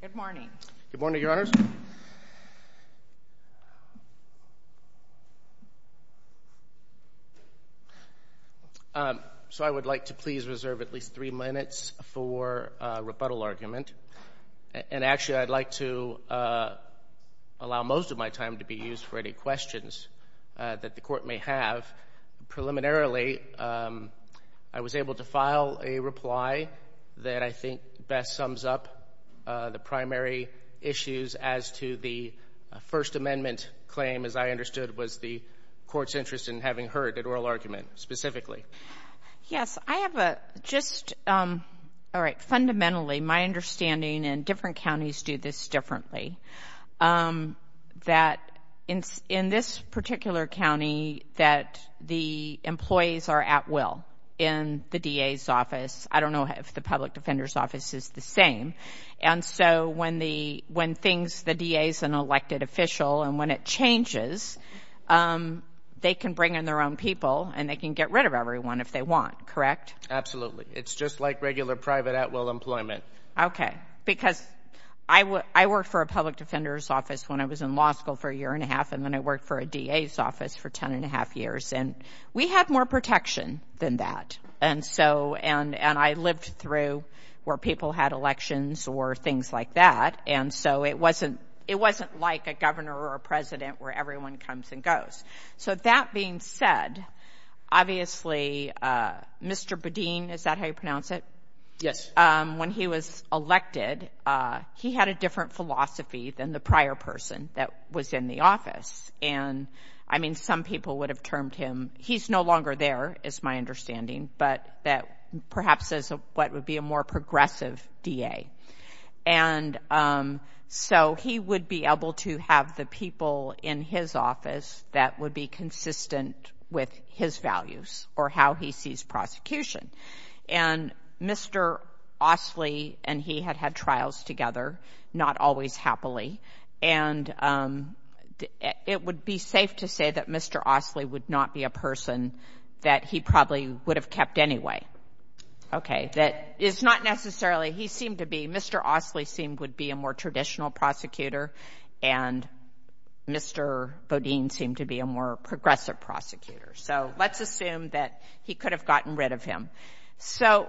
Good morning. Good morning, Your Honors. So I would like to please reserve at least three minutes for a rebuttal argument, and actually I'd like to allow most of my time to be used for any questions that the Court may have. Preliminarily, I was able to file a reply that I think best sums up the primary issues as to the First Amendment claim, as I understood was the Court's interest in having heard an oral argument specifically. Yes, I have a just, all right, fundamentally my understanding, and different counties do this differently, that in this particular county that the employees are at will in the DA's office. I don't know if the public defender's office is the same, and so when the, when things, the DA's an elected official, and when it changes, they can bring in their own people, and they can get rid of everyone if they want, correct? Absolutely. It's just like regular private at will employment. Okay, because I work for a public defender's office when I was in law school for a year and a half, and then I worked for a DA's office for ten and a half years, and we had more protection than that, and so, and I lived through where people had elections or things like that, and so it wasn't, it wasn't like a governor or a president where everyone comes and goes. So, that being said, obviously, Mr. Budine, is that how you pronounce it? Yes. When he was elected, he had a different philosophy than the prior person that was in the office, and, I mean, some people would have termed him, he's no longer there, is my understanding, but that perhaps is what would be a more progressive DA, and so he would be able to have the people in his office that would be consistent with his values or how he sees prosecution, and Mr. Ostley and he had had trials together, not always happily, and it would be safe to say that Mr. Ostley would not be a person that he probably would have kept anyway. Okay. That is not necessarily, he seemed to be, Mr. Ostley seemed, would be a more traditional prosecutor, and Mr. Budine seemed to be a more progressive prosecutor, so let's assume that he could have gotten rid of him. So,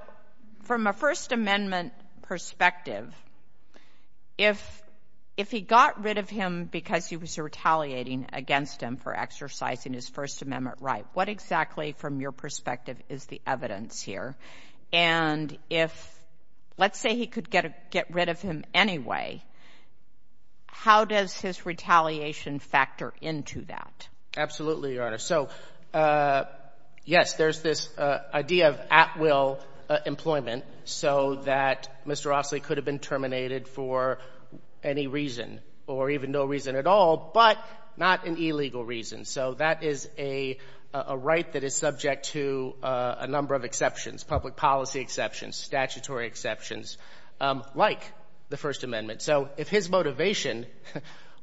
from a First Amendment perspective, if he got rid of him because he was retaliating against him for exercising his First Amendment right, what exactly, from your perspective, is the evidence here? And if, let's say he could get rid of him anyway, how does his retaliation factor into that? Absolutely, Your Honor. So, yes, there's this idea of at-will employment so that Mr. Ostley could have been terminated for any reason, or even no reason at all, but not an illegal reason. So that is a right that is subject to a number of exceptions, public policy exceptions, statutory exceptions, like the First Amendment. So, if his motivation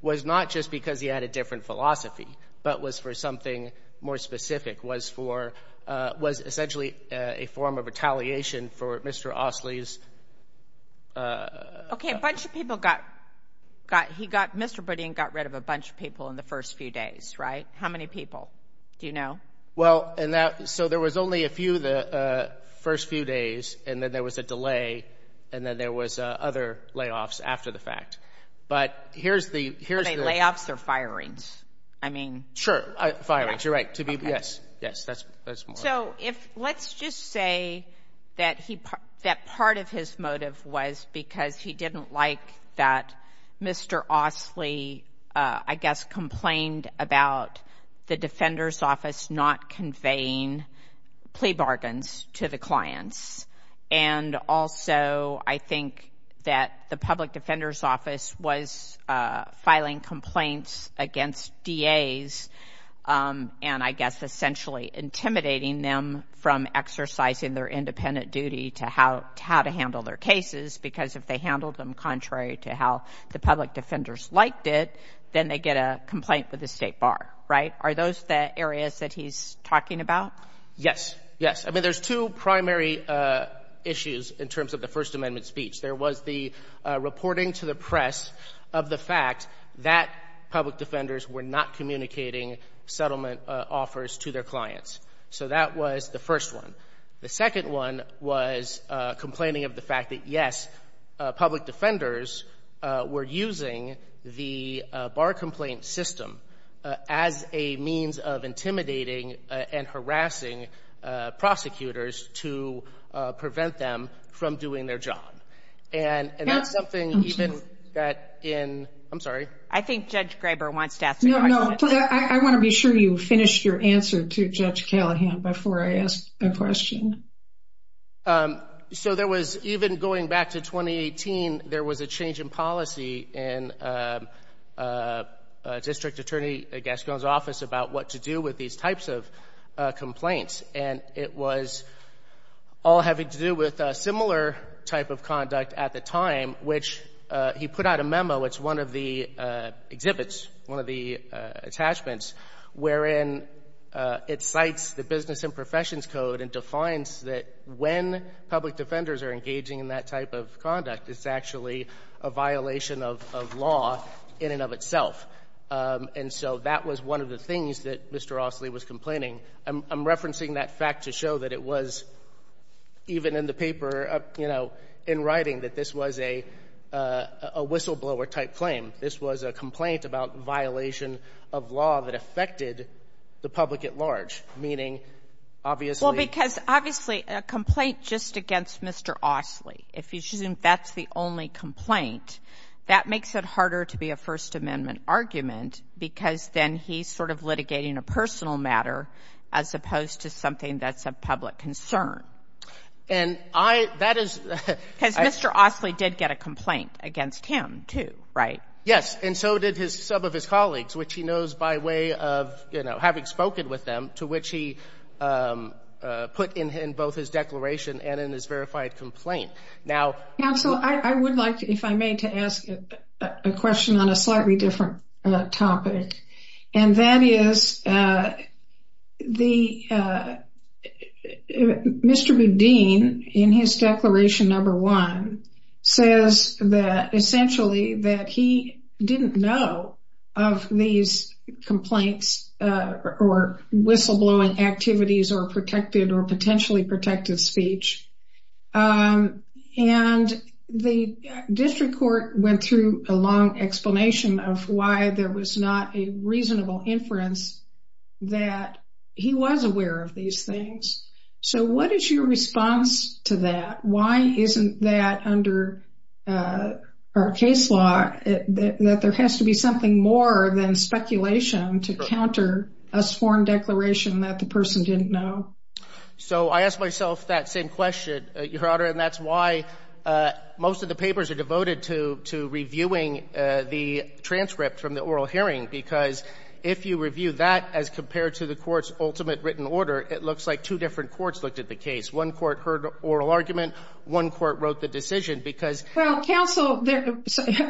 was not just because he had a different philosophy, but was for something more specific, was for, was essentially a form of retaliation for Mr. Ostley's... Okay, a bunch of people got, he got, Mr. Budine got rid of a bunch of people in the first few days, right? How many people? Do you know? Well, and that, so there was only a few the first few days, and then there was a delay, and then there was other layoffs after the fact. But here's the... Are they layoffs or firings? I mean... Sure, firings, you're right, to be, yes, yes, that's more... So if, let's just say that he, that part of his motive was because he didn't like that Mr. Ostley, I guess, complained about the Defender's Office not conveying plea bargains to the clients. And also, I think that the Public Defender's Office was filing complaints against DAs, and, I guess, essentially intimidating them from exercising their independent duty to how to handle their cases, because if they handled them contrary to how the Public Defenders liked it, then they get a complaint with the State Bar, right? Are those the areas that he's talking about? Yes, yes. I mean, there's two primary issues in terms of the First Amendment speech. There was the reporting to the press of the fact that Public Defenders were not communicating settlement offers to their clients. So that was the first one. The second one was complaining of the fact that, yes, Public Defenders were using the bar complaint system as a means of intimidating and harassing prosecutors to prevent them from doing their job. And that's something even that in, I'm sorry? I think Judge Graber wants to ask a question. No, no. I want to be sure you finished your answer to Judge Callahan before I ask a question. So there was, even going back to 2018, there was a change in policy in District Attorney Gascon's office about what to do with these types of complaints. And it was all having to do with a similar type of conduct at the time, which he put out a memo. It's one of the exhibits, one of the attachments, wherein it cites the Business and Professions Code and defines that when Public Defenders are engaging in that type of conduct, it's actually a violation of law in and of itself. And so that was one of the things that Mr. Rossley was complaining. I'm referencing that fact to show that it was, even in the paper, you know, in writing, that this was a whistleblower-type claim. This was a complaint about violation of law that affected the public at large, meaning, obviously... Well, because, obviously, a complaint just against Mr. Rossley, if you assume that's the only complaint, that makes it harder to be a First Amendment argument, because then he's sort of litigating a personal matter as opposed to something that's a public concern. And I, that is... Because Mr. Rossley did get a complaint against him, too, right? Yes, and so did some of his colleagues, which he knows by way of, you know, having spoken with them, to which he put in both his declaration and in his verified complaint. Now... I'd like, if I may, to ask a question on a slightly different topic. And that is, Mr. Boudin, in his Declaration No. 1, says that, essentially, that he didn't know of these complaints or whistleblowing activities or protected or potentially protected speech. And the district court went through a long explanation of why there was not a reasonable inference that he was aware of these things. So, what is your response to that? Why isn't that, under our case law, that there has to be something more than speculation to counter a sworn declaration that the person didn't know? So I ask myself that same question, Your Honor, and that's why most of the papers are devoted to reviewing the transcript from the oral hearing, because if you review that as compared to the court's ultimate written order, it looks like two different courts looked at the case. One court heard oral argument, one court wrote the decision, because... Well, counsel,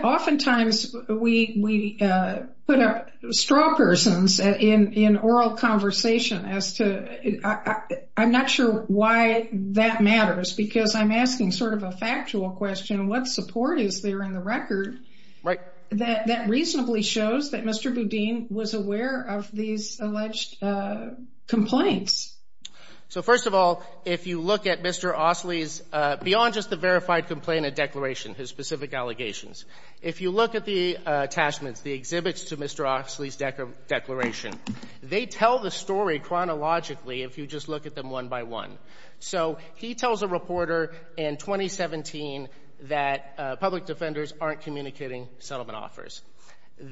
oftentimes we put up straw persons in oral conversation as to... I'm not sure why that matters, because I'm asking sort of a factual question. What support is there in the record that reasonably shows that Mr. Boudin was aware of these alleged complaints? So, first of all, if you look at Mr. Ostley's, beyond just the verified complaint and declaration, his specific allegations, if you look at the attachments, the exhibits to Mr. Ostley's declaration, they tell the story chronologically if you just look at them one by one. So he tells a reporter in 2017 that public defenders aren't communicating settlement offers.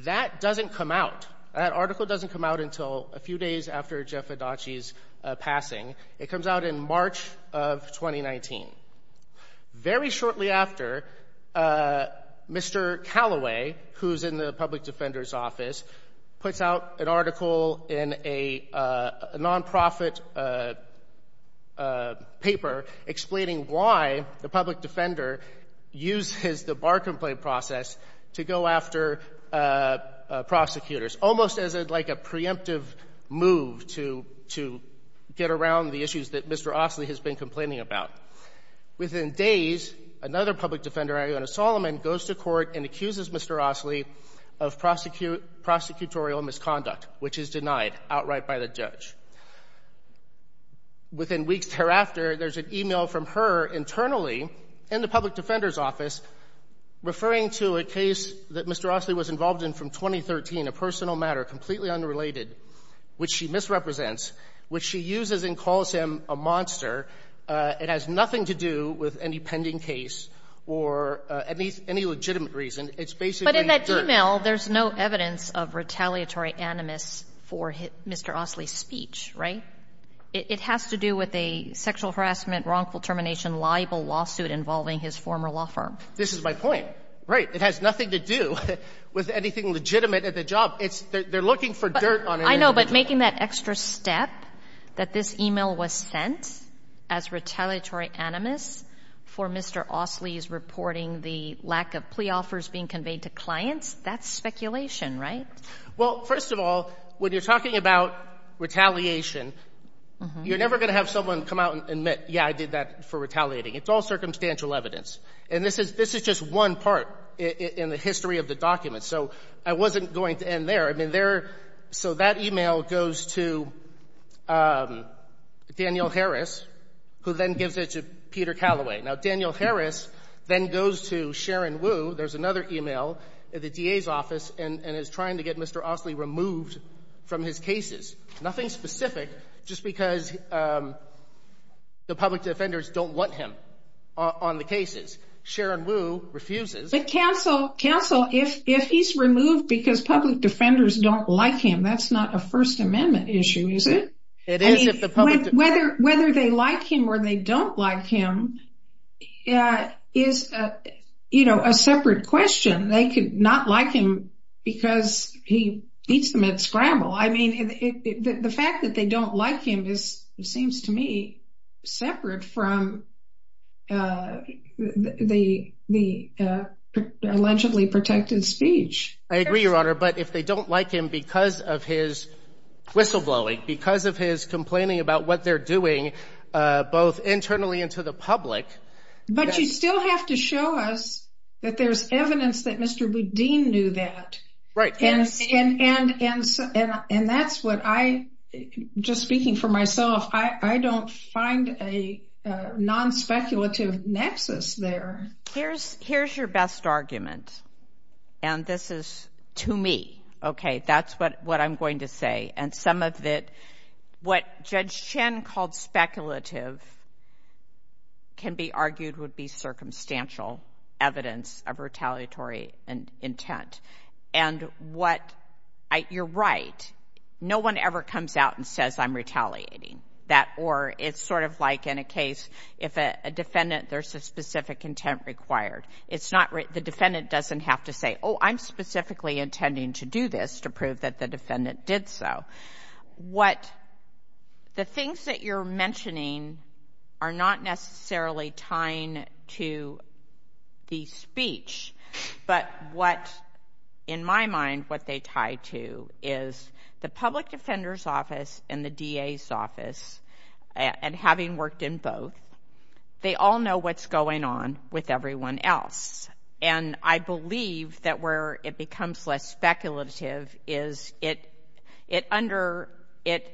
That doesn't come out. That article doesn't come out until a few days after Jeff Adachi's passing. It comes out in March of 2019. Very shortly after, Mr. Callaway, who's in the public defender's office, puts out an article in a nonprofit paper explaining why the public defender uses the bar complaint process to go after prosecutors, almost as like a preemptive move to get around the issues that Mr. Ostley has been complaining about. Within days, another public defender, Iona Solomon, goes to court and accuses Mr. Ostley of prosecutorial misconduct, which is denied outright by the judge. Within weeks thereafter, there's an email from her internally in the public defender's office referring to a case that Mr. Ostley was involved in from 2013, a personal matter, completely unrelated, which she misrepresents, which she uses and calls him a monster. It has nothing to do with any pending case or any legitimate reason. It's basically But in that email, there's no evidence of retaliatory animus for Mr. Ostley's speech, right? It has to do with a sexual harassment, wrongful termination, liable lawsuit involving his former law firm. This is my point. Right. It has nothing to do with anything legitimate at the job. They're looking for dirt on him. I know, but making that extra step that this email was sent as retaliatory animus for Mr. Ostley's reporting the lack of plea offers being conveyed to clients, that's speculation, right? Well, first of all, when you're talking about retaliation, you're never going to have someone come out and admit, yeah, I did that for retaliating. It's all circumstantial evidence. And this is just one part in the history of the document. So I wasn't going to end there. I mean, so that email goes to Daniel Harris, who then gives it to Peter Calloway. Now, Daniel Harris then goes to Sharon Wu, there's another email, the DA's office, and is trying to get Mr. Ostley removed from his cases. Nothing specific, just because the public defenders don't want him on the cases. Sharon Wu refuses. But counsel, if he's removed because public defenders don't like him, that's not a First Amendment issue, is it? It is if the public- I mean, whether they like him or they don't like him is a separate question. They could not like him because he eats them at scramble. I mean, the fact that they don't like him is, it seems to me, separate from the allegedly protected speech. I agree, Your Honor. But if they don't like him because of his whistleblowing, because of his complaining about what they're doing, both internally and to the public- But you still have to show us that there's evidence that Mr. Boudin knew that. And that's what I, just speaking for myself, I don't find a non-speculative nexus there. Here's your best argument, and this is to me, okay? That's what I'm going to say. And some of it, what Judge Chen called speculative, can be argued would be circumstantial evidence of retaliatory intent. And what, you're right, no one ever comes out and says, I'm retaliating. That or, it's sort of like in a case, if a defendant, there's a specific intent required. It's not, the defendant doesn't have to say, oh, I'm specifically intending to do this to prove that the defendant did so. What, the things that you're mentioning are not necessarily tying to the speech. But what, in my mind, what they tie to is the public defender's office and the DA's office, and having worked in both, they all know what's everyone else. And I believe that where it becomes less speculative is it under, it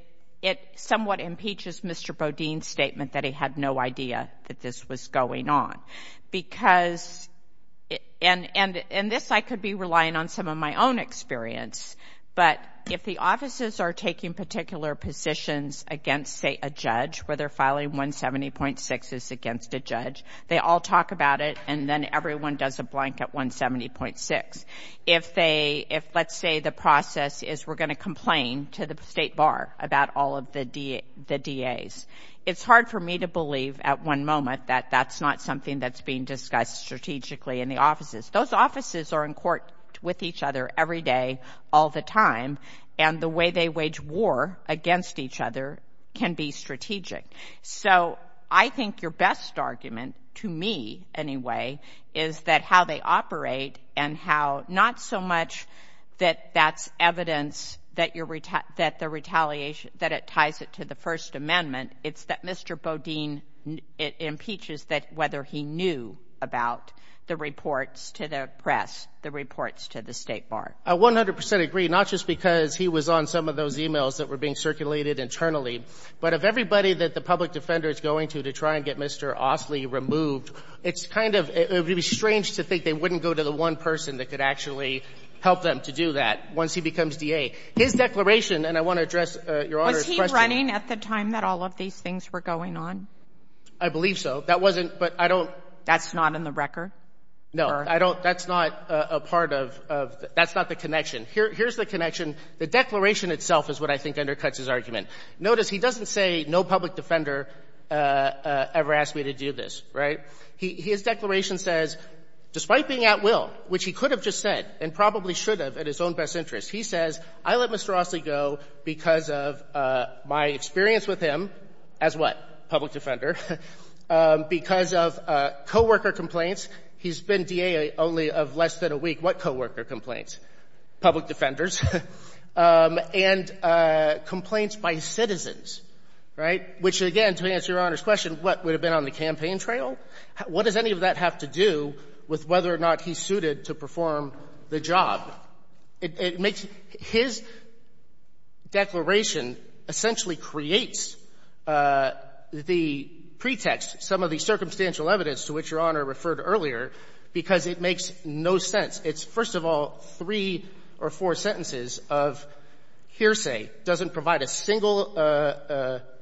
somewhat impeaches Mr. Boudin's statement that he had no idea that this was going on. Because, and this I could be relying on some of my own experience, but if the offices are taking particular positions against, say, a judge, where they're filing 170.6 is against a judge, they all talk about it, and then everyone does a blank at 170.6. If they, if let's say the process is we're going to complain to the state bar about all of the DA's. It's hard for me to believe at one moment that that's not something that's being discussed strategically in the offices. Those offices are in court with each other every day, all the time, and the way they wage war against each other can be strategic. So, I think your best argument, to me anyway, is that how they operate and how, not so much that that's evidence that you're, that the retaliation, that it ties it to the First Amendment, it's that Mr. Boudin impeaches that whether he knew about the reports to the press, the reports to the state bar. I 100% agree, not just because he was on some of those emails that were being circulated internally, but of everybody that the public defender is going to to try and get Mr. Ostley removed. It's kind of, it would be strange to think they wouldn't go to the one person that could actually help them to do that once he becomes DA. His declaration, and I want to address Your Honor's question. Was he running at the time that all of these things were going on? I believe so. That wasn't, but I don't. That's not in the record? No. I don't, that's not a part of, that's not the connection. Here's the connection. The declaration itself is what I think undercuts his argument. Notice he doesn't say no public defender ever asked me to do this, right? His declaration says, despite being at will, which he could have just said, and probably should have at his own best interest, he says, I let Mr. Ostley go because of my experience with him as what? Public defender. Because of coworker complaints. He's been DA only of less than a week. What coworker complaints? Public defenders. And complaints by citizens. Right? Which, again, to answer Your Honor's question, what? Would it have been on the campaign trail? What does any of that have to do with whether or not he's suited to perform the job? It makes his declaration essentially creates the pretext, some of the circumstantial evidence to which Your Honor referred earlier, because it makes no sense. First of all, three or four sentences of hearsay doesn't provide a single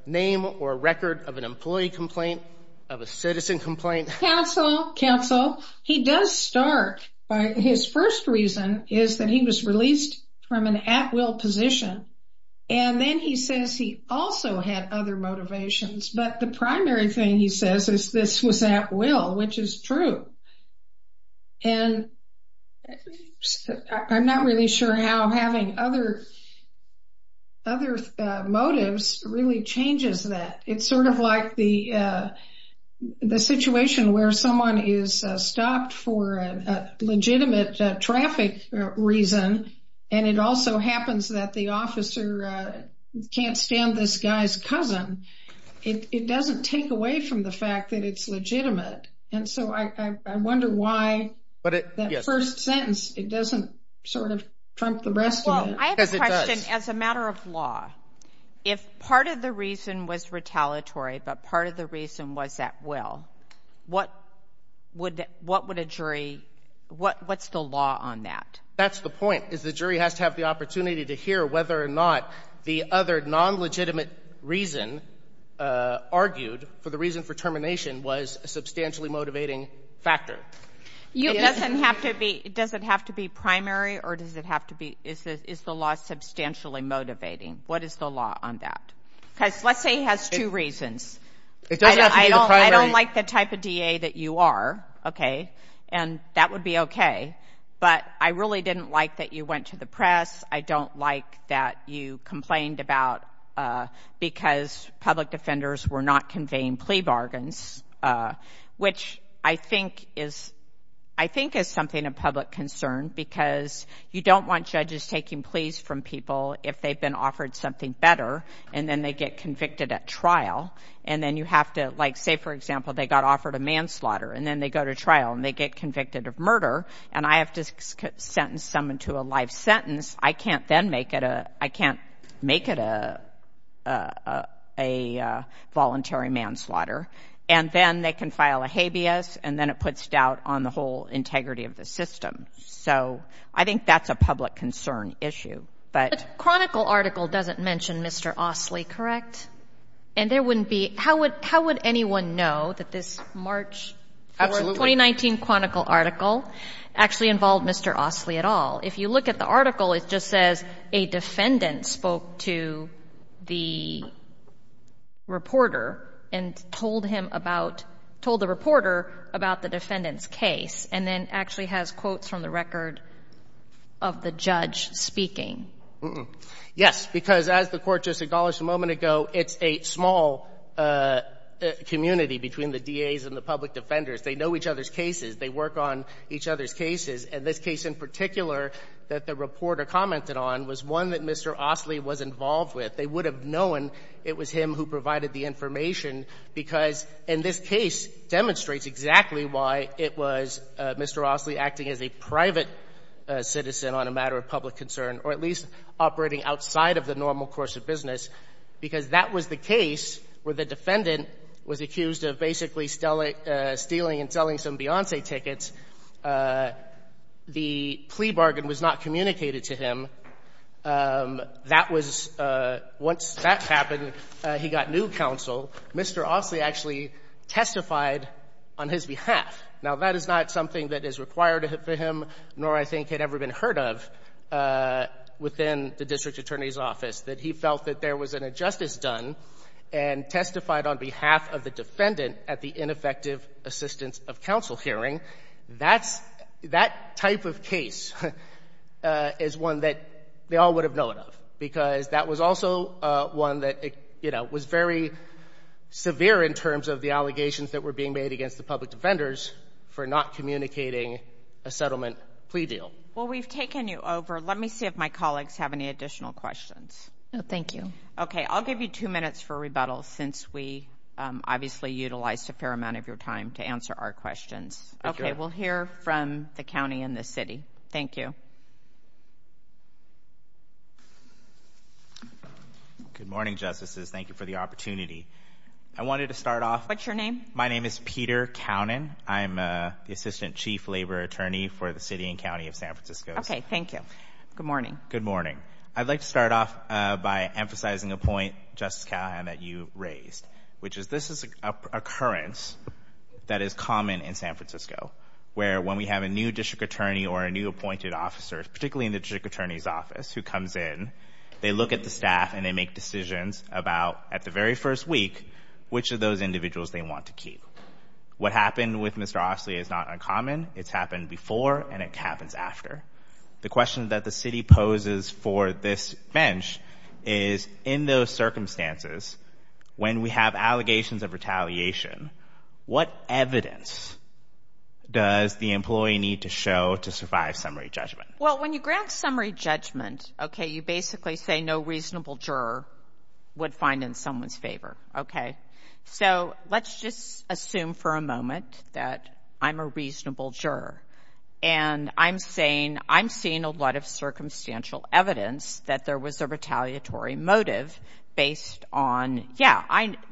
name or record of an employee complaint, of a citizen complaint. Counsel, counsel, he does start. His first reason is that he was released from an at will position. And then he says he also had other motivations. But the primary thing he says is this was at will, which is true. And I'm not really sure how having other motives really changes that. It's sort of like the situation where someone is stopped for a legitimate traffic reason, and it also happens that the officer can't understand this guy's cousin. It doesn't take away from the fact that it's legitimate. And so I wonder why that first sentence, it doesn't sort of trump the rest of it. I have a question. As a matter of law, if part of the reason was retaliatory, but part of the reason was at will, what would a jury, what's the law on that? That's the point, is the jury has to have the opportunity to hear whether or not the other non-legitimate reason argued for the reason for termination was a substantially motivating factor. You doesn't have to be, does it have to be primary or does it have to be, is the law substantially motivating? What is the law on that? Because let's say he has two reasons. It doesn't have to be the primary. I don't like the type of DA that you are. Okay. And that would be okay. But I really didn't like that you went to the press. I don't like that you complained about, because public defenders were not conveying plea bargains, which I think is, I think is something of public concern because you don't want judges taking pleas from people if they've been offered something better and then they get convicted at trial. And then you have to like, say, for example, they got offered a manslaughter and then they go to trial and they get convicted of murder and I have to sentence someone to a life sentence. I can't then make it a, I can't make it a, a voluntary manslaughter. And then they can file a habeas and then it puts doubt on the whole integrity of the system. So I think that's a public concern issue. But Chronicle article doesn't mention Mr. Ostley, correct? And there wouldn't be, how would, how would anyone know that this March 4th, 2019 Chronicle article actually involved Mr. Ostley at all? If you look at the article, it just says a defendant spoke to the reporter and told him about, told the reporter about the defendant's case and then actually has quotes from the record of the judge speaking. Yes. Because as the Court just acknowledged a moment ago, it's a small community between the DAs and the public defenders. They know each other's cases. They work on each other's cases. And this case in particular that the reporter commented on was one that Mr. Ostley was involved with. They would have known it was him who provided the information because in this case demonstrates exactly why it was Mr. Ostley acting as a private citizen on a matter of public concern, or at least operating outside of the normal course of business, because that was the case where the defendant was accused of basically stealing and selling some Beyonce tickets. The plea bargain was not communicated to him. That was, once that happened, he got new counsel. Mr. Ostley actually testified on his behalf. Now, that is not something that is required for him, nor I think had ever been heard of within the district attorney's office, that he felt that there was an injustice done and testified on behalf of the defendant at the ineffective assistance of counsel hearing. That's, that type of case is one that they all would have known of because that was also one that, you know, was very severe in terms of the allegations that were being made against the public defenders for not communicating a settlement plea deal. Well, we've taken you over. Let me see if my colleagues have any additional questions. No, thank you. Okay, I'll give you two minutes for rebuttal since we obviously utilized a fair amount of your time to answer our questions. Okay, we'll hear from the county and the city. Thank you. Good morning, Justices. Thank you for the opportunity. I wanted to start off What's your name? My name is Peter Cownan. I'm the Assistant Chief Labor Attorney for the City and County of San Francisco. Okay, thank you. Good morning. Good morning. I'd like to start off by emphasizing a point, Justice Callahan, that you raised, which is this is an occurrence that is common in San Francisco, where when we have a new in the district attorney's office who comes in, they look at the staff and they make decisions about, at the very first week, which of those individuals they want to keep. What happened with Mr. Ostley is not uncommon. It's happened before and it happens after. The question that the city poses for this bench is, in those circumstances, when we have allegations of retaliation, what evidence does the employee need to show to survive summary judgment? Well, when you grant summary judgment, okay, you basically say no reasonable juror would find in someone's favor, okay? So let's just assume for a moment that I'm a reasonable juror and I'm saying I'm seeing a lot of circumstantial evidence that there was a retaliatory motive based on, yeah,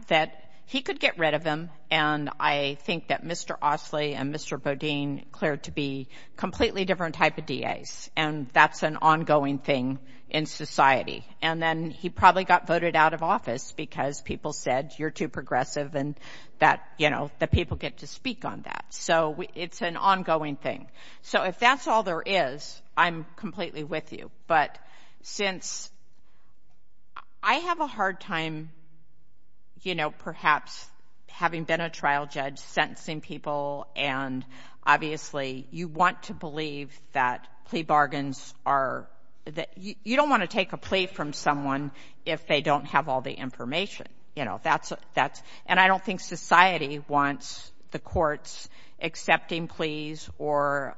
that he could get rid of them and I think that Mr. Ostley and Mr. Bodine cleared to be completely different type of DAs and that's an ongoing thing in society. And then he probably got voted out of office because people said, you're too progressive and that, you know, the people get to speak on that. So it's an ongoing thing. So if that's all there is, I'm completely with you. But since I have a hard time, you know, perhaps having been a trial judge, sentencing people and obviously you want to believe that plea bargains are, you don't want to take a plea from someone if they don't have all the information. You know, that's, and I don't think society wants the courts accepting pleas or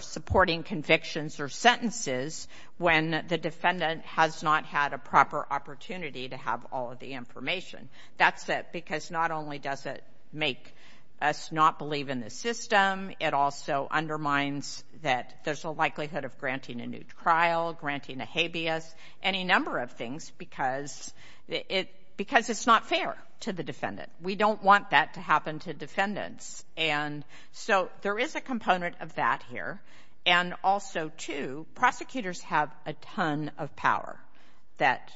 supporting convictions or sentences when the defendant has not had a proper opportunity to have all the information. That's it. Because not only does it make us not believe in the system, it also undermines that there's a likelihood of granting a new trial, granting a habeas, any number of things because it's not fair to the defendant. We don't want that to happen to defendants. And so there is a component of that here. And also too, prosecutors have a ton of power that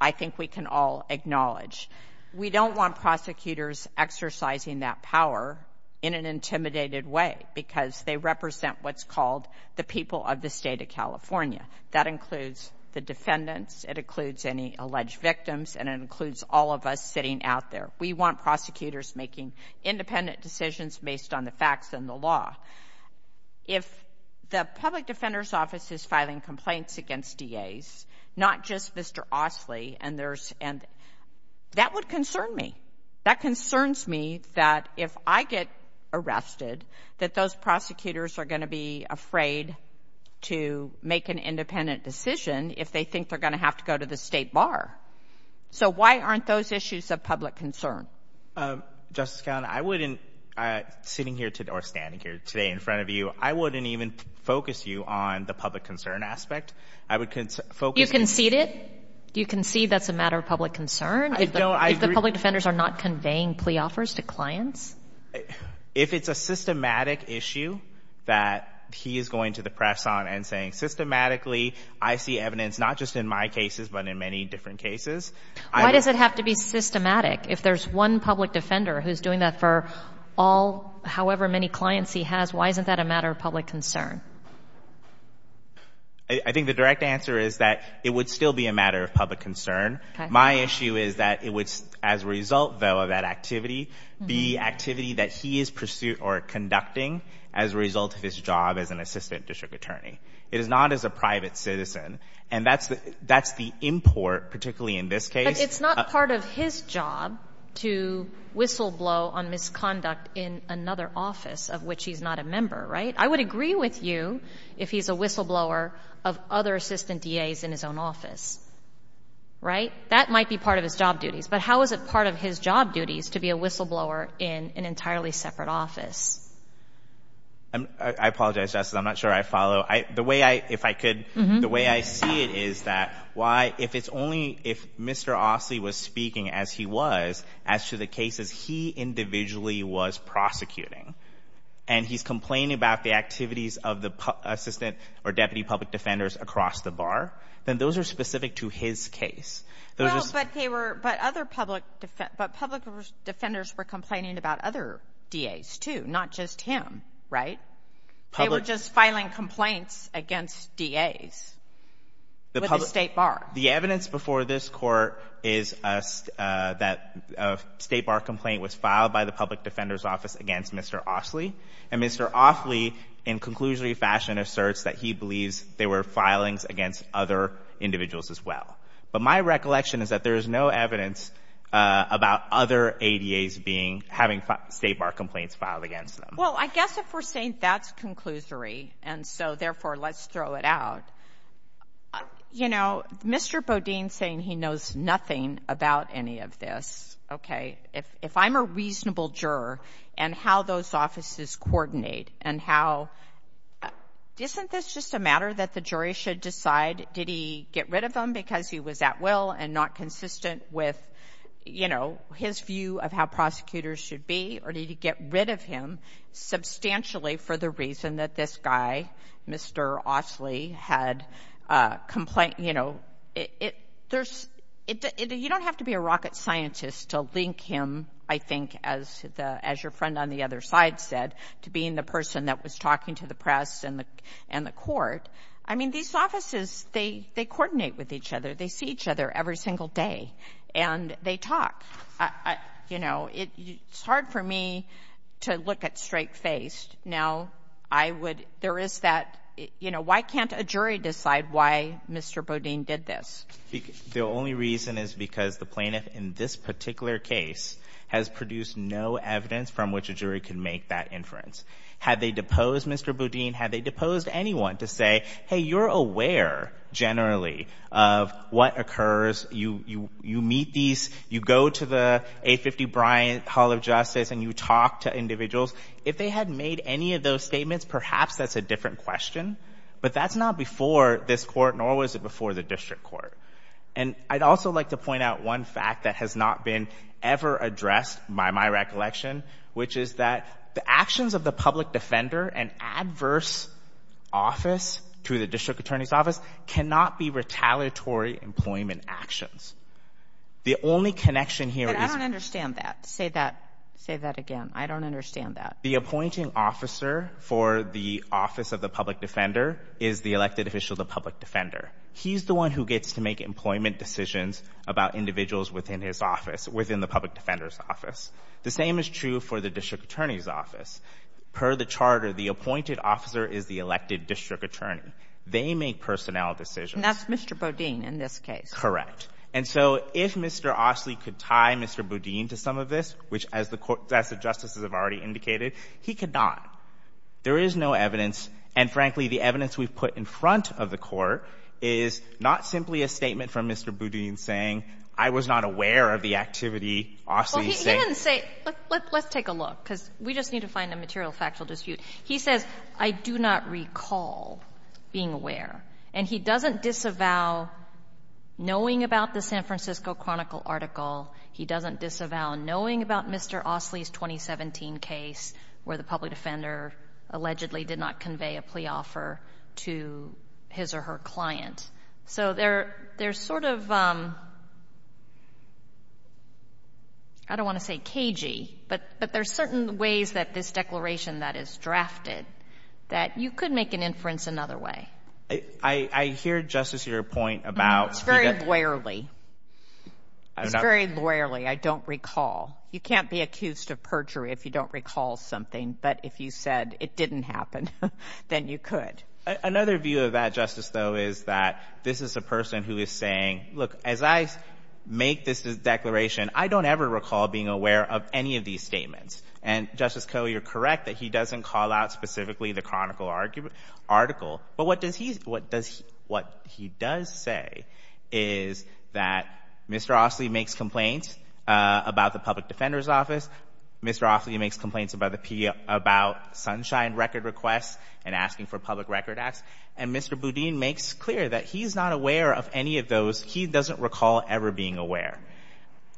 I think we can all acknowledge. We don't want prosecutors exercising that power in an intimidated way because they represent what's called the people of the state of California. That includes the defendants, it includes any alleged victims, and it includes all of us sitting out there. We want prosecutors making independent decisions based on the against DAs, not just Mr. Ostley. And there's, and that would concern me. That concerns me that if I get arrested, that those prosecutors are going to be afraid to make an independent decision if they think they're going to have to go to the state bar. So why aren't those issues of public concern? Justice Conlon, I wouldn't, sitting here today, or standing here today in front of you, I wouldn't even focus you on the public concern aspect. I would focus... You concede it? You concede that's a matter of public concern if the public defenders are not conveying plea offers to clients? If it's a systematic issue that he is going to the press on and saying, systematically, I see evidence, not just in my cases, but in many different cases. Why does it have to be systematic? If there's one public defender who's doing that for all, however many clients he has, why isn't that a matter of public concern? I think the direct answer is that it would still be a matter of public concern. My issue is that it would, as a result, though, of that activity, the activity that he is pursuing or conducting as a result of his job as an assistant district attorney. It is not as a private citizen. And that's the import, particularly in this case. But it's not part of his job to whistleblow on misconduct in another office of which he's not a member, right? I would agree with you if he's a whistleblower of other assistant DAs in his own office, right? That might be part of his job duties, but how is it part of his job duties to be a whistleblower in an entirely separate office? I apologize, Justice. I'm not sure I follow. The way I, if I could, the way I see it is that why, if it's only, if Mr. Ostley was speaking as he was, as to the cases he individually was prosecuting, and he's complaining about the activities of the assistant or deputy public defenders across the bar, then those are specific to his case. Well, but they were, but other public, but public defenders were complaining about other DAs too, not just him, right? They were just filing complaints against DAs. With the State Bar. The evidence before this Court is that a State Bar complaint was filed by the public defender's office against Mr. Ostley. And Mr. Ostley, in conclusory fashion, asserts that he believes there were filings against other individuals as well. But my recollection is that there is no evidence about other ADAs being, having State Bar complaints filed against them. Well, I guess if we're saying that's conclusory, and so, therefore, let's throw it out, you know, Mr. Bodine saying he knows nothing about any of this, okay, if, if I'm a reasonable juror, and how those offices coordinate, and how, isn't this just a matter that the jury should decide, did he get rid of him because he was at will and not consistent with, you know, his view of how prosecutors should be, or did he get rid of him substantially for the reason that this guy, Mr. Ostley, had a complaint, you know, it, there's, you don't have to be a rocket scientist to link him, I think, as the, as your friend on the other side said, to being the person that was talking to the press and the, and the court. I mean, these offices, they, they coordinate with each other. They see each other every single day, and they talk. I, I, you know, it, it's hard for me to look at straight face. Now, I would, there is that, you know, why can't a jury decide why Mr. Bodine did this? The, the only reason is because the plaintiff in this particular case has produced no evidence from which a jury can make that inference. Had they deposed Mr. Bodine, had they deposed anyone to say, hey, you're aware, generally, of what occurs, you, you, you meet these, you go to the 850 Bryant Hall of Justice, and you talk to individuals, if they had made any of those statements, perhaps that's a different question, but that's not before this court, nor was it before the district court. And I'd also like to point out one fact that has not been ever addressed, by my recollection, which is that the actions of the public defender, an adverse office to the district attorney's office, cannot be retaliatory employment actions. The only connection here is... But I don't understand that. Say that, say that again. I don't understand that. The appointing officer for the office of the public defender is the elected official of the public defender. He's the one who gets to make employment decisions about individuals within his office, within the public defender's office. The same is true for the district attorney's office. Per the charter, the appointed officer is the elected district attorney. They make personnel decisions. And that's Mr. Boudin in this case. Correct. And so if Mr. Ostley could tie Mr. Boudin to some of this, which, as the court — as the Justices have already indicated, he could not. There is no evidence, and frankly, the evidence we've put in front of the Court is not simply a statement from Mr. Boudin saying, I was not aware of the activity Ostley's saying. He didn't say, let's take a look, because we just need to find a material factual dispute. He says, I do not recall being aware. And he doesn't disavow knowing about the San Francisco Chronicle article. He doesn't disavow knowing about Mr. Ostley's 2017 case where the public defender allegedly did not convey a plea offer to his or her client. So there's sort of, I don't want to say cagey, but there's certain ways that this declaration that is drafted, that you could make an inference another way. I hear, Justice, your point about — It's very lawyerly. It's very lawyerly. I don't recall. You can't be accused of perjury if you don't recall something. But if you said it didn't happen, then you could. Another view of that, Justice, though, is that this is a person who is saying, look, as I make this declaration, I don't ever recall being aware of any of these statements. And Justice Koh, you're correct that he doesn't call out specifically the Chronicle article. But what does he — what does — what he does say is that Mr. Ostley makes complaints about the public defender's office. Mr. Ostley makes complaints about the — about Sunshine Record requests and asking for public record acts. And Mr. Boudin makes clear that he's not aware of any of those. He doesn't recall ever being aware.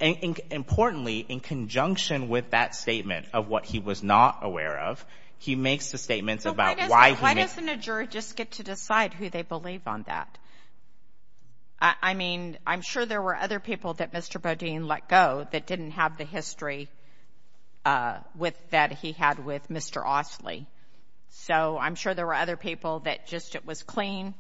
And importantly, in conjunction with that statement of what he was not aware of, he makes the statements about why he — But why doesn't a jury just get to decide who they believe on that? I mean, I'm sure there were other people that Mr. Boudin let go that didn't have the history with — that he had with Mr. Ostley. So I'm sure there were other people that just — it was clean,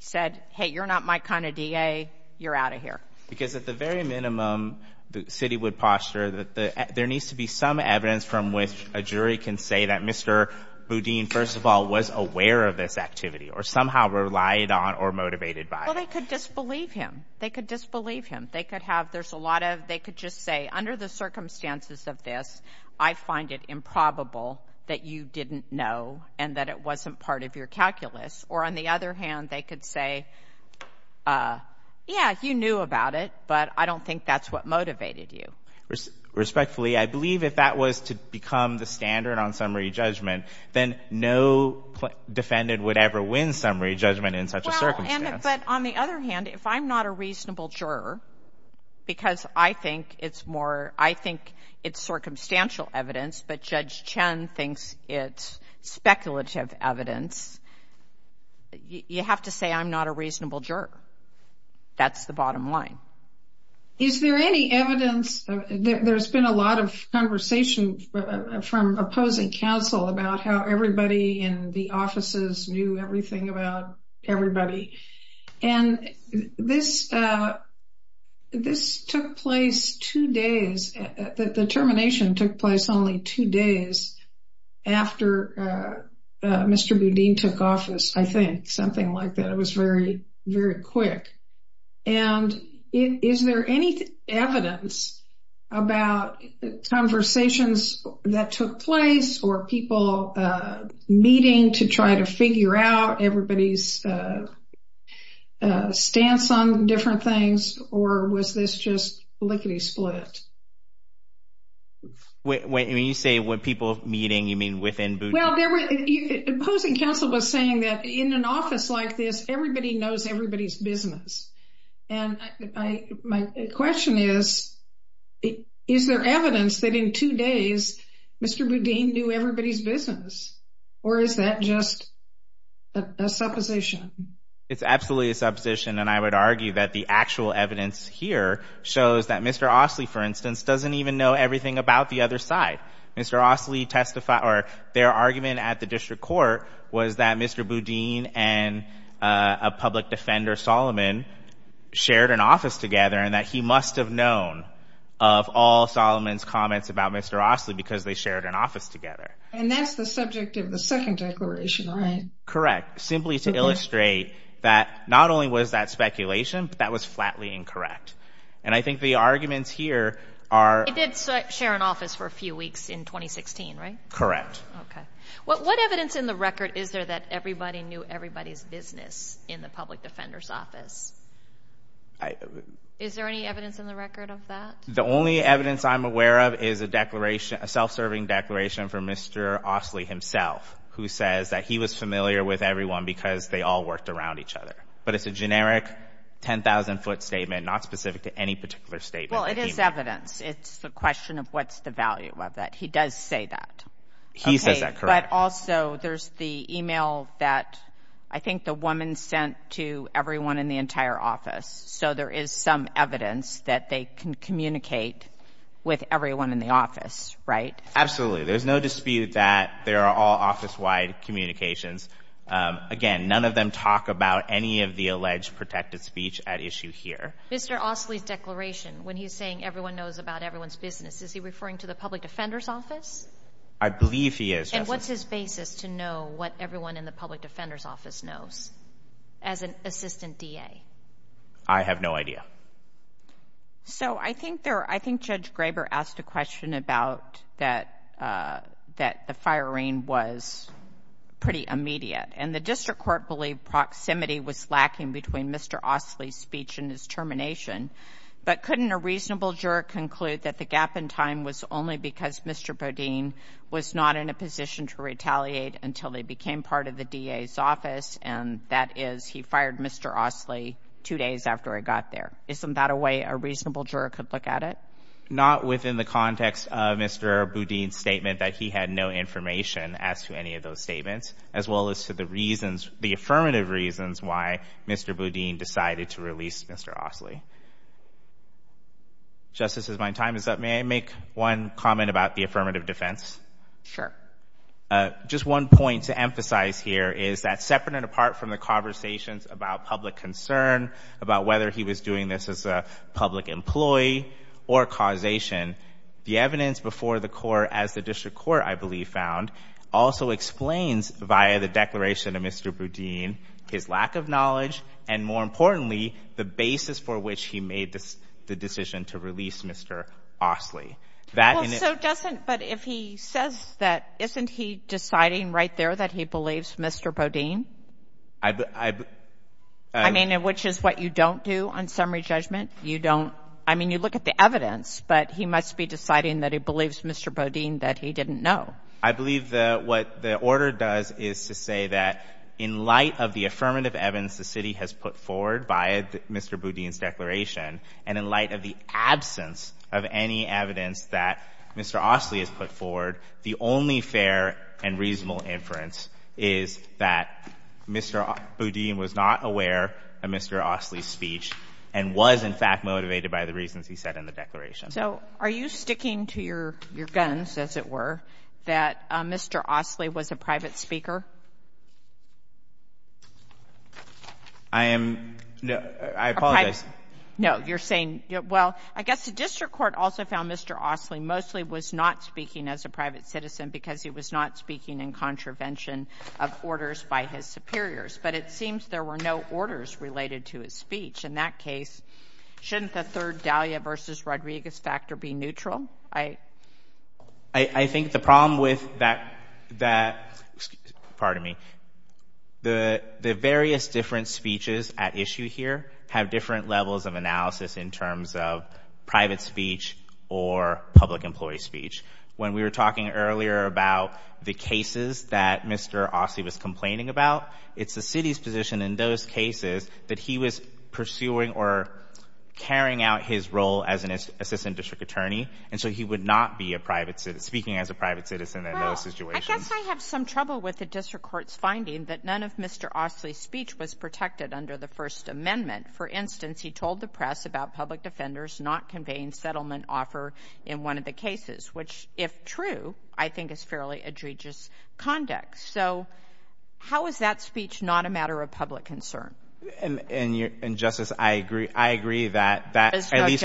said, hey, you're not my kind of DA, you're out of here. Because at the very minimum, the city would posture that there needs to be some evidence from which a jury can say that Mr. Boudin, first of all, was aware of this activity or somehow relied on or motivated by it. Well, they could disbelieve him. They could disbelieve him. They could have — there's a the circumstances of this, I find it improbable that you didn't know and that it wasn't part of your calculus. Or on the other hand, they could say, yeah, you knew about it, but I don't think that's what motivated you. Respectfully, I believe if that was to become the standard on summary judgment, then no defendant would ever win summary judgment in such a circumstance. But on the other hand, if I'm not a reasonable juror, because I think it's more — I think it's circumstantial evidence, but Judge Chen thinks it's speculative evidence, you have to say I'm not a reasonable juror. That's the bottom line. Is there any evidence — there's been a lot of conversation from opposing counsel about how everybody in the offices knew everything about everybody. And this took place two days, the termination took place only two days after Mr. Boudin took office, I think, something like that. It was very, very quick. And is there any evidence about conversations that took place or people meeting to try to figure out everybody's stance on different things? Or was this just lickety split? When you say people meeting, you mean within Boudin? Well, opposing counsel was saying that in an office like this, everybody knows everybody's business. And my question is, is there evidence that in two days, Mr. Boudin knew everybody's business? Or is that just a supposition? It's absolutely a supposition. And I would argue that the actual evidence here shows that Mr. Ostley, for instance, doesn't even know everything about the other side. Mr. Ostley testified — or their argument at the district court was that Mr. Boudin and a public defender, Solomon, shared an office together, and that he must have known of all Solomon's comments about Mr. Ostley because they shared an office together. And that's the subject of the second declaration, right? Correct. Simply to illustrate that not only was that speculation, but that was flatly incorrect. And I think the arguments here are — He did share an office for a few weeks in 2016, right? Correct. Okay. What evidence in the record is there that everybody knew everybody's business in the public defender's office? Is there any evidence in the record of that? The only evidence I'm aware of is a declaration — a self-serving declaration for Mr. Ostley himself, who says that he was familiar with everyone because they all worked around each other. But it's a generic 10,000-foot statement, not specific to any particular statement. Well, it is evidence. It's a question of what's the value of that. He does say that. He says that, correct. But also, there's the email that I think the woman sent to everyone in the entire office. So there is some evidence that they can communicate with everyone in the office, right? Absolutely. There's no dispute that there are all office-wide communications. Again, none of them talk about any of the alleged protected speech at issue here. Mr. Ostley's declaration, when he's saying everyone knows about everyone's business, is he referring to the public defender's office? I believe he is, Justice. And what's his basis to know what everyone in the public defender's office knows as an assistant DA? I have no idea. So I think Judge Graber asked a question about that the firing was pretty immediate. And the district court believed proximity was lacking between Mr. Ostley's speech and his termination. But couldn't a reasonable juror conclude that the gap in time was only because Mr. Bodine was not in a position to retaliate until they became part of the DA's office, and that is he fired Mr. Ostley two days after he got there? Isn't that a way a reasonable juror could look at it? Not within the context of Mr. Bodine's statement that he had no information as to any of those statements, as well as to the affirmative reasons why Mr. Bodine decided to release Mr. Ostley. Justice, as my time is up, may I make one comment about the affirmative defense? Sure. Just one point to emphasize here is that, separate and apart from the conversations about public concern, about whether he was doing this as a public employee or causation, the evidence before the court, as the district court, I believe, found, also explains via the declaration of Mr. Bodine his lack of knowledge and, more importantly, the basis for which he made the decision to release Mr. Ostley. So doesn't, but if he says that, isn't he deciding right there that he believes Mr. Bodine? I mean, which is what you don't do on summary judgment. You don't, I mean, you look at the evidence, but he must be deciding that he believes Mr. Bodine, that he didn't know. I believe that what the order does is to say that, in light of the affirmative evidence the has put forward by Mr. Bodine's declaration, and in light of the absence of any evidence that Mr. Ostley has put forward, the only fair and reasonable inference is that Mr. Bodine was not aware of Mr. Ostley's speech and was, in fact, motivated by the reasons he said in the declaration. So are you sticking to your guns, as it were, that Mr. Ostley was a private speaker? I am, no, I apologize. No, you're saying, well, I guess the district court also found Mr. Ostley mostly was not speaking as a private citizen because he was not speaking in contravention of orders by his superiors, but it seems there were no orders related to his speech. In that case, shouldn't the third Dahlia versus Rodriguez factor be neutral? I, I think the problem with that, that, pardon me, the, the various different speeches at issue here have different levels of analysis in terms of private speech or public employee speech. When we were talking earlier about the cases that Mr. Ostley was complaining about, it's the city's position in those cases that he was pursuing or carrying out his role as an assistant district attorney, and so he would not be a private citizen, speaking as a private citizen in those situations. I guess I have some trouble with the district court's finding that none of Mr. Ostley's speech was protected under the First Amendment. For instance, he told the press about public defenders not conveying settlement offer in one of the cases, which, if true, I think is fairly egregious conduct. So how is that speech not a matter of public concern? And, and your, and Justice, I agree, I agree that, that at least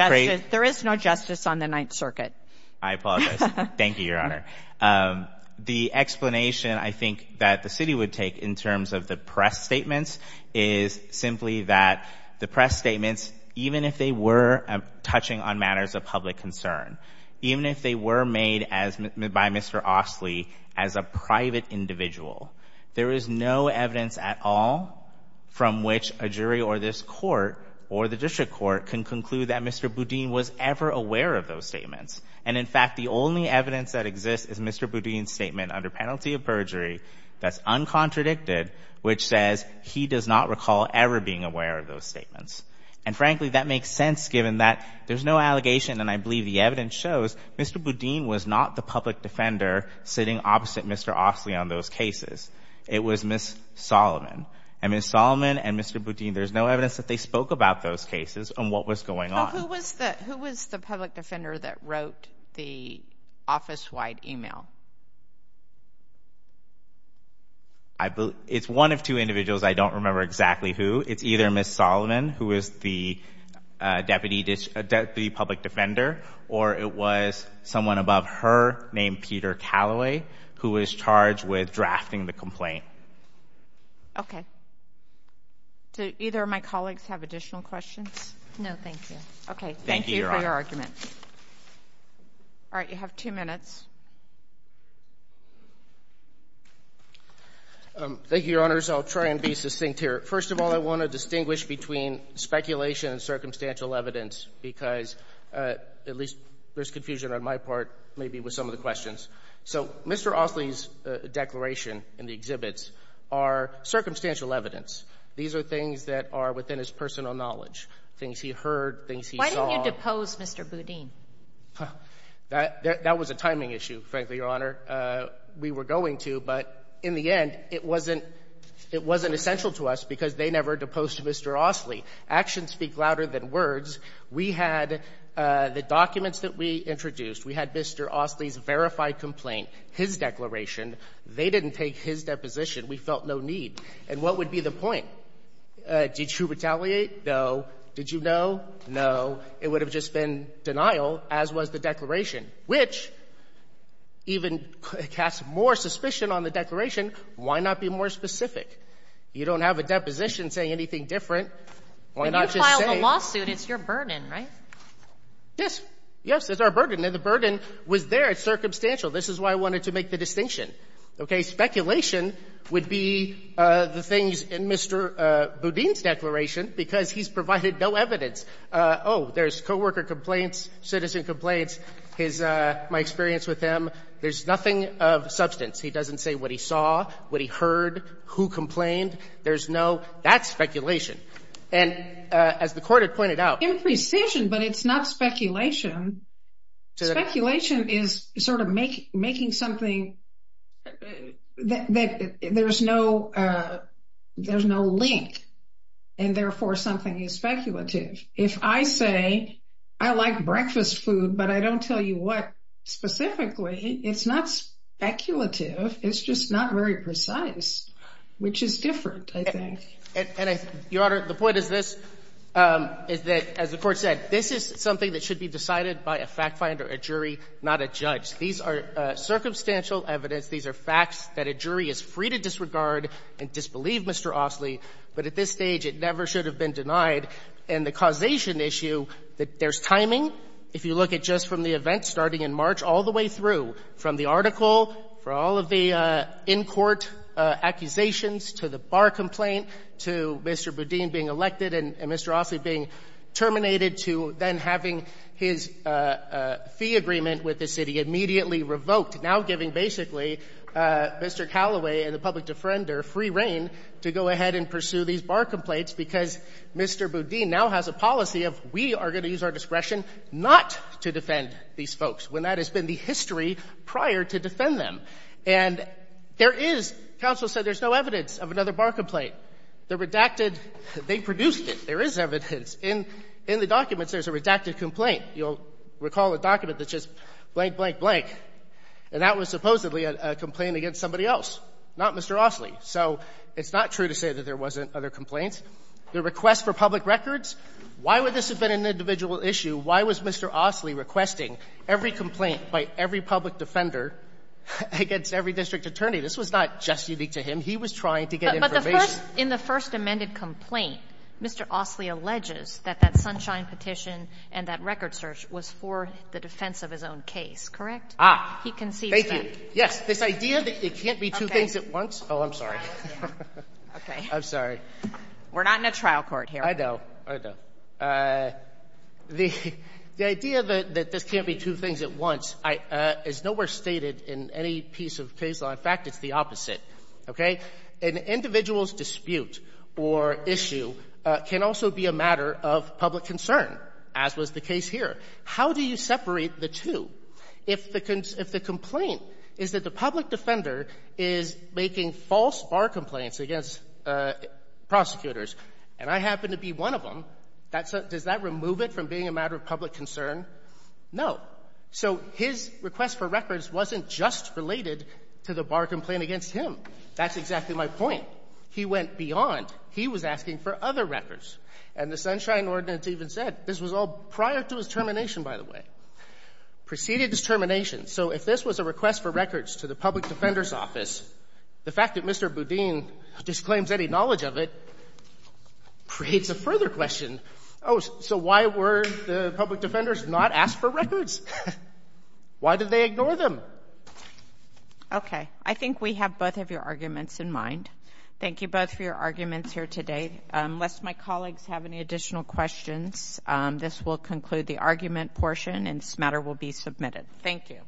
there is no justice on the Ninth Circuit. I apologize. Thank you, Your Honor. The explanation, I think, that the city would take in terms of the press statements is simply that the press statements, even if they were touching on matters of public concern, even if they were made as, by Mr. Ostley as a private individual, there is no evidence at all from which a jury or this court or the district court can conclude that Mr. Boudin was ever aware of those statements. And, in fact, the only evidence that exists is Mr. Boudin's statement under penalty of perjury that's uncontradicted, which says he does not recall ever being aware of those statements. And, frankly, that makes sense given that there's no allegation, and I believe the evidence shows Mr. Boudin was not the public defender sitting opposite Mr. Ostley on those cases. It was Ms. Solomon. And Ms. Solomon and Mr. Boudin, there's no evidence that they spoke about those cases and what was going on. Who was the public defender that wrote the office-wide email? It's one of two individuals. I don't remember exactly who. It's either Ms. Solomon, who is the public defender, or it was someone above her named Peter Calloway, who was charged with drafting the complaint. Okay. Do either of my colleagues have additional questions? No, thank you. Okay. Thank you for your argument. All right. You have two minutes. Thank you, Your Honors. I'll try and be succinct here. First of all, I want to distinguish between speculation and circumstantial evidence because, at least there's confusion on my part, maybe with some of the questions. So Mr. Ostley's declaration in the exhibits are circumstantial evidence. These are things that are within his personal knowledge, things he heard, things he saw. Why didn't you depose Mr. Boudin? That was a timing issue, frankly, Your Honor. We were going to, but in the end, it wasn't essential to us because they never deposed Mr. Ostley. Actions speak louder than words. We had the documents that we introduced. We had Mr. Ostley's verified complaint, his declaration. They didn't take his deposition. We felt no need. And what would be the point? Did you retaliate? No. Did you know? No. It would have just been denial, as was the declaration, which even casts more suspicion on the declaration. Why not be more specific? You don't have a lawsuit. It's your burden, right? Yes. Yes, it's our burden. And the burden was there. It's circumstantial. This is why I wanted to make the distinction. Okay? Speculation would be the things in Mr. Boudin's declaration because he's provided no evidence. Oh, there's coworker complaints, citizen complaints. My experience with him, there's nothing of substance. He doesn't say what he saw, what he heard, who complained. That's speculation. And as the court had pointed out- Imprecision, but it's not speculation. Speculation is sort of making something that there's no link. And therefore, something is speculative. If I say, I like breakfast food, but I don't tell you what specifically, it's not speculative. It's just not very precise, which is different, I think. And, Your Honor, the point is this, is that, as the Court said, this is something that should be decided by a fact finder, a jury, not a judge. These are circumstantial evidence. These are facts that a jury is free to disregard and disbelieve, Mr. Ostley. But at this stage, it never should have been denied. And the causation issue, that there's timing, if you look at just from the event starting in March all the way through, from the article, for all of the in-court accusations, to the bar complaint, to Mr. Boudin being elected and Mr. Ostley being terminated, to then having his fee agreement with the city immediately revoked, now giving basically Mr. Callaway and the public defender free reign to go ahead and pursue these bar complaints, because Mr. Boudin now has a policy of, we are going to use our discretion not to defend these folks, when that has been the history prior to defend them. And there is, counsel said, there's no evidence of another bar complaint. The redacted, they produced it. There is evidence. In the documents, there's a redacted complaint. You'll recall a document that says blank, blank, blank. And that was supposedly a complaint against somebody else, not Mr. Ostley. So it's not true to say that there wasn't other complaints. The request for public records, why would this have been an individual issue? Why was Mr. Ostley requesting every complaint by every public defender against every district attorney? This was not just unique to him. He was trying to get information. Kagan. But the first, in the first amended complaint, Mr. Ostley alleges that that Sunshine petition and that record search was for the defense of his own case, correct? He concedes that. Thank you. Yes. This idea that it can't be two things at once. Okay. Oh, I'm sorry. Okay. I'm sorry. We're not in a trial court here. I know. I know. The idea that this can't be two things at once is nowhere stated in any piece of case law. In fact, it's the opposite. Okay? An individual's dispute or issue can also be a matter of public concern, as was the case here. How do you separate the two? If the complaint is that the public defender is making false bar complaints against prosecutors, and I happen to be one of them, that's a, does that remove it from being a matter of public concern? No. So his request for records wasn't just related to the bar complaint against him. That's exactly my point. He went beyond. He was asking for other records. And the Sunshine ordinance even said, this was all prior to his termination, by the way. Preceded his termination. So if this was a request for records to the public defender's office, the fact that Mr. Boudin disclaims any knowledge of it creates a further question. Oh, so why were the public defenders not asked for records? Why did they ignore them? Okay. I think we have both of your arguments in mind. Thank you both for your arguments here today. Unless my colleagues have any additional questions, this will conclude the argument portion, and this matter will be submitted. Thank you.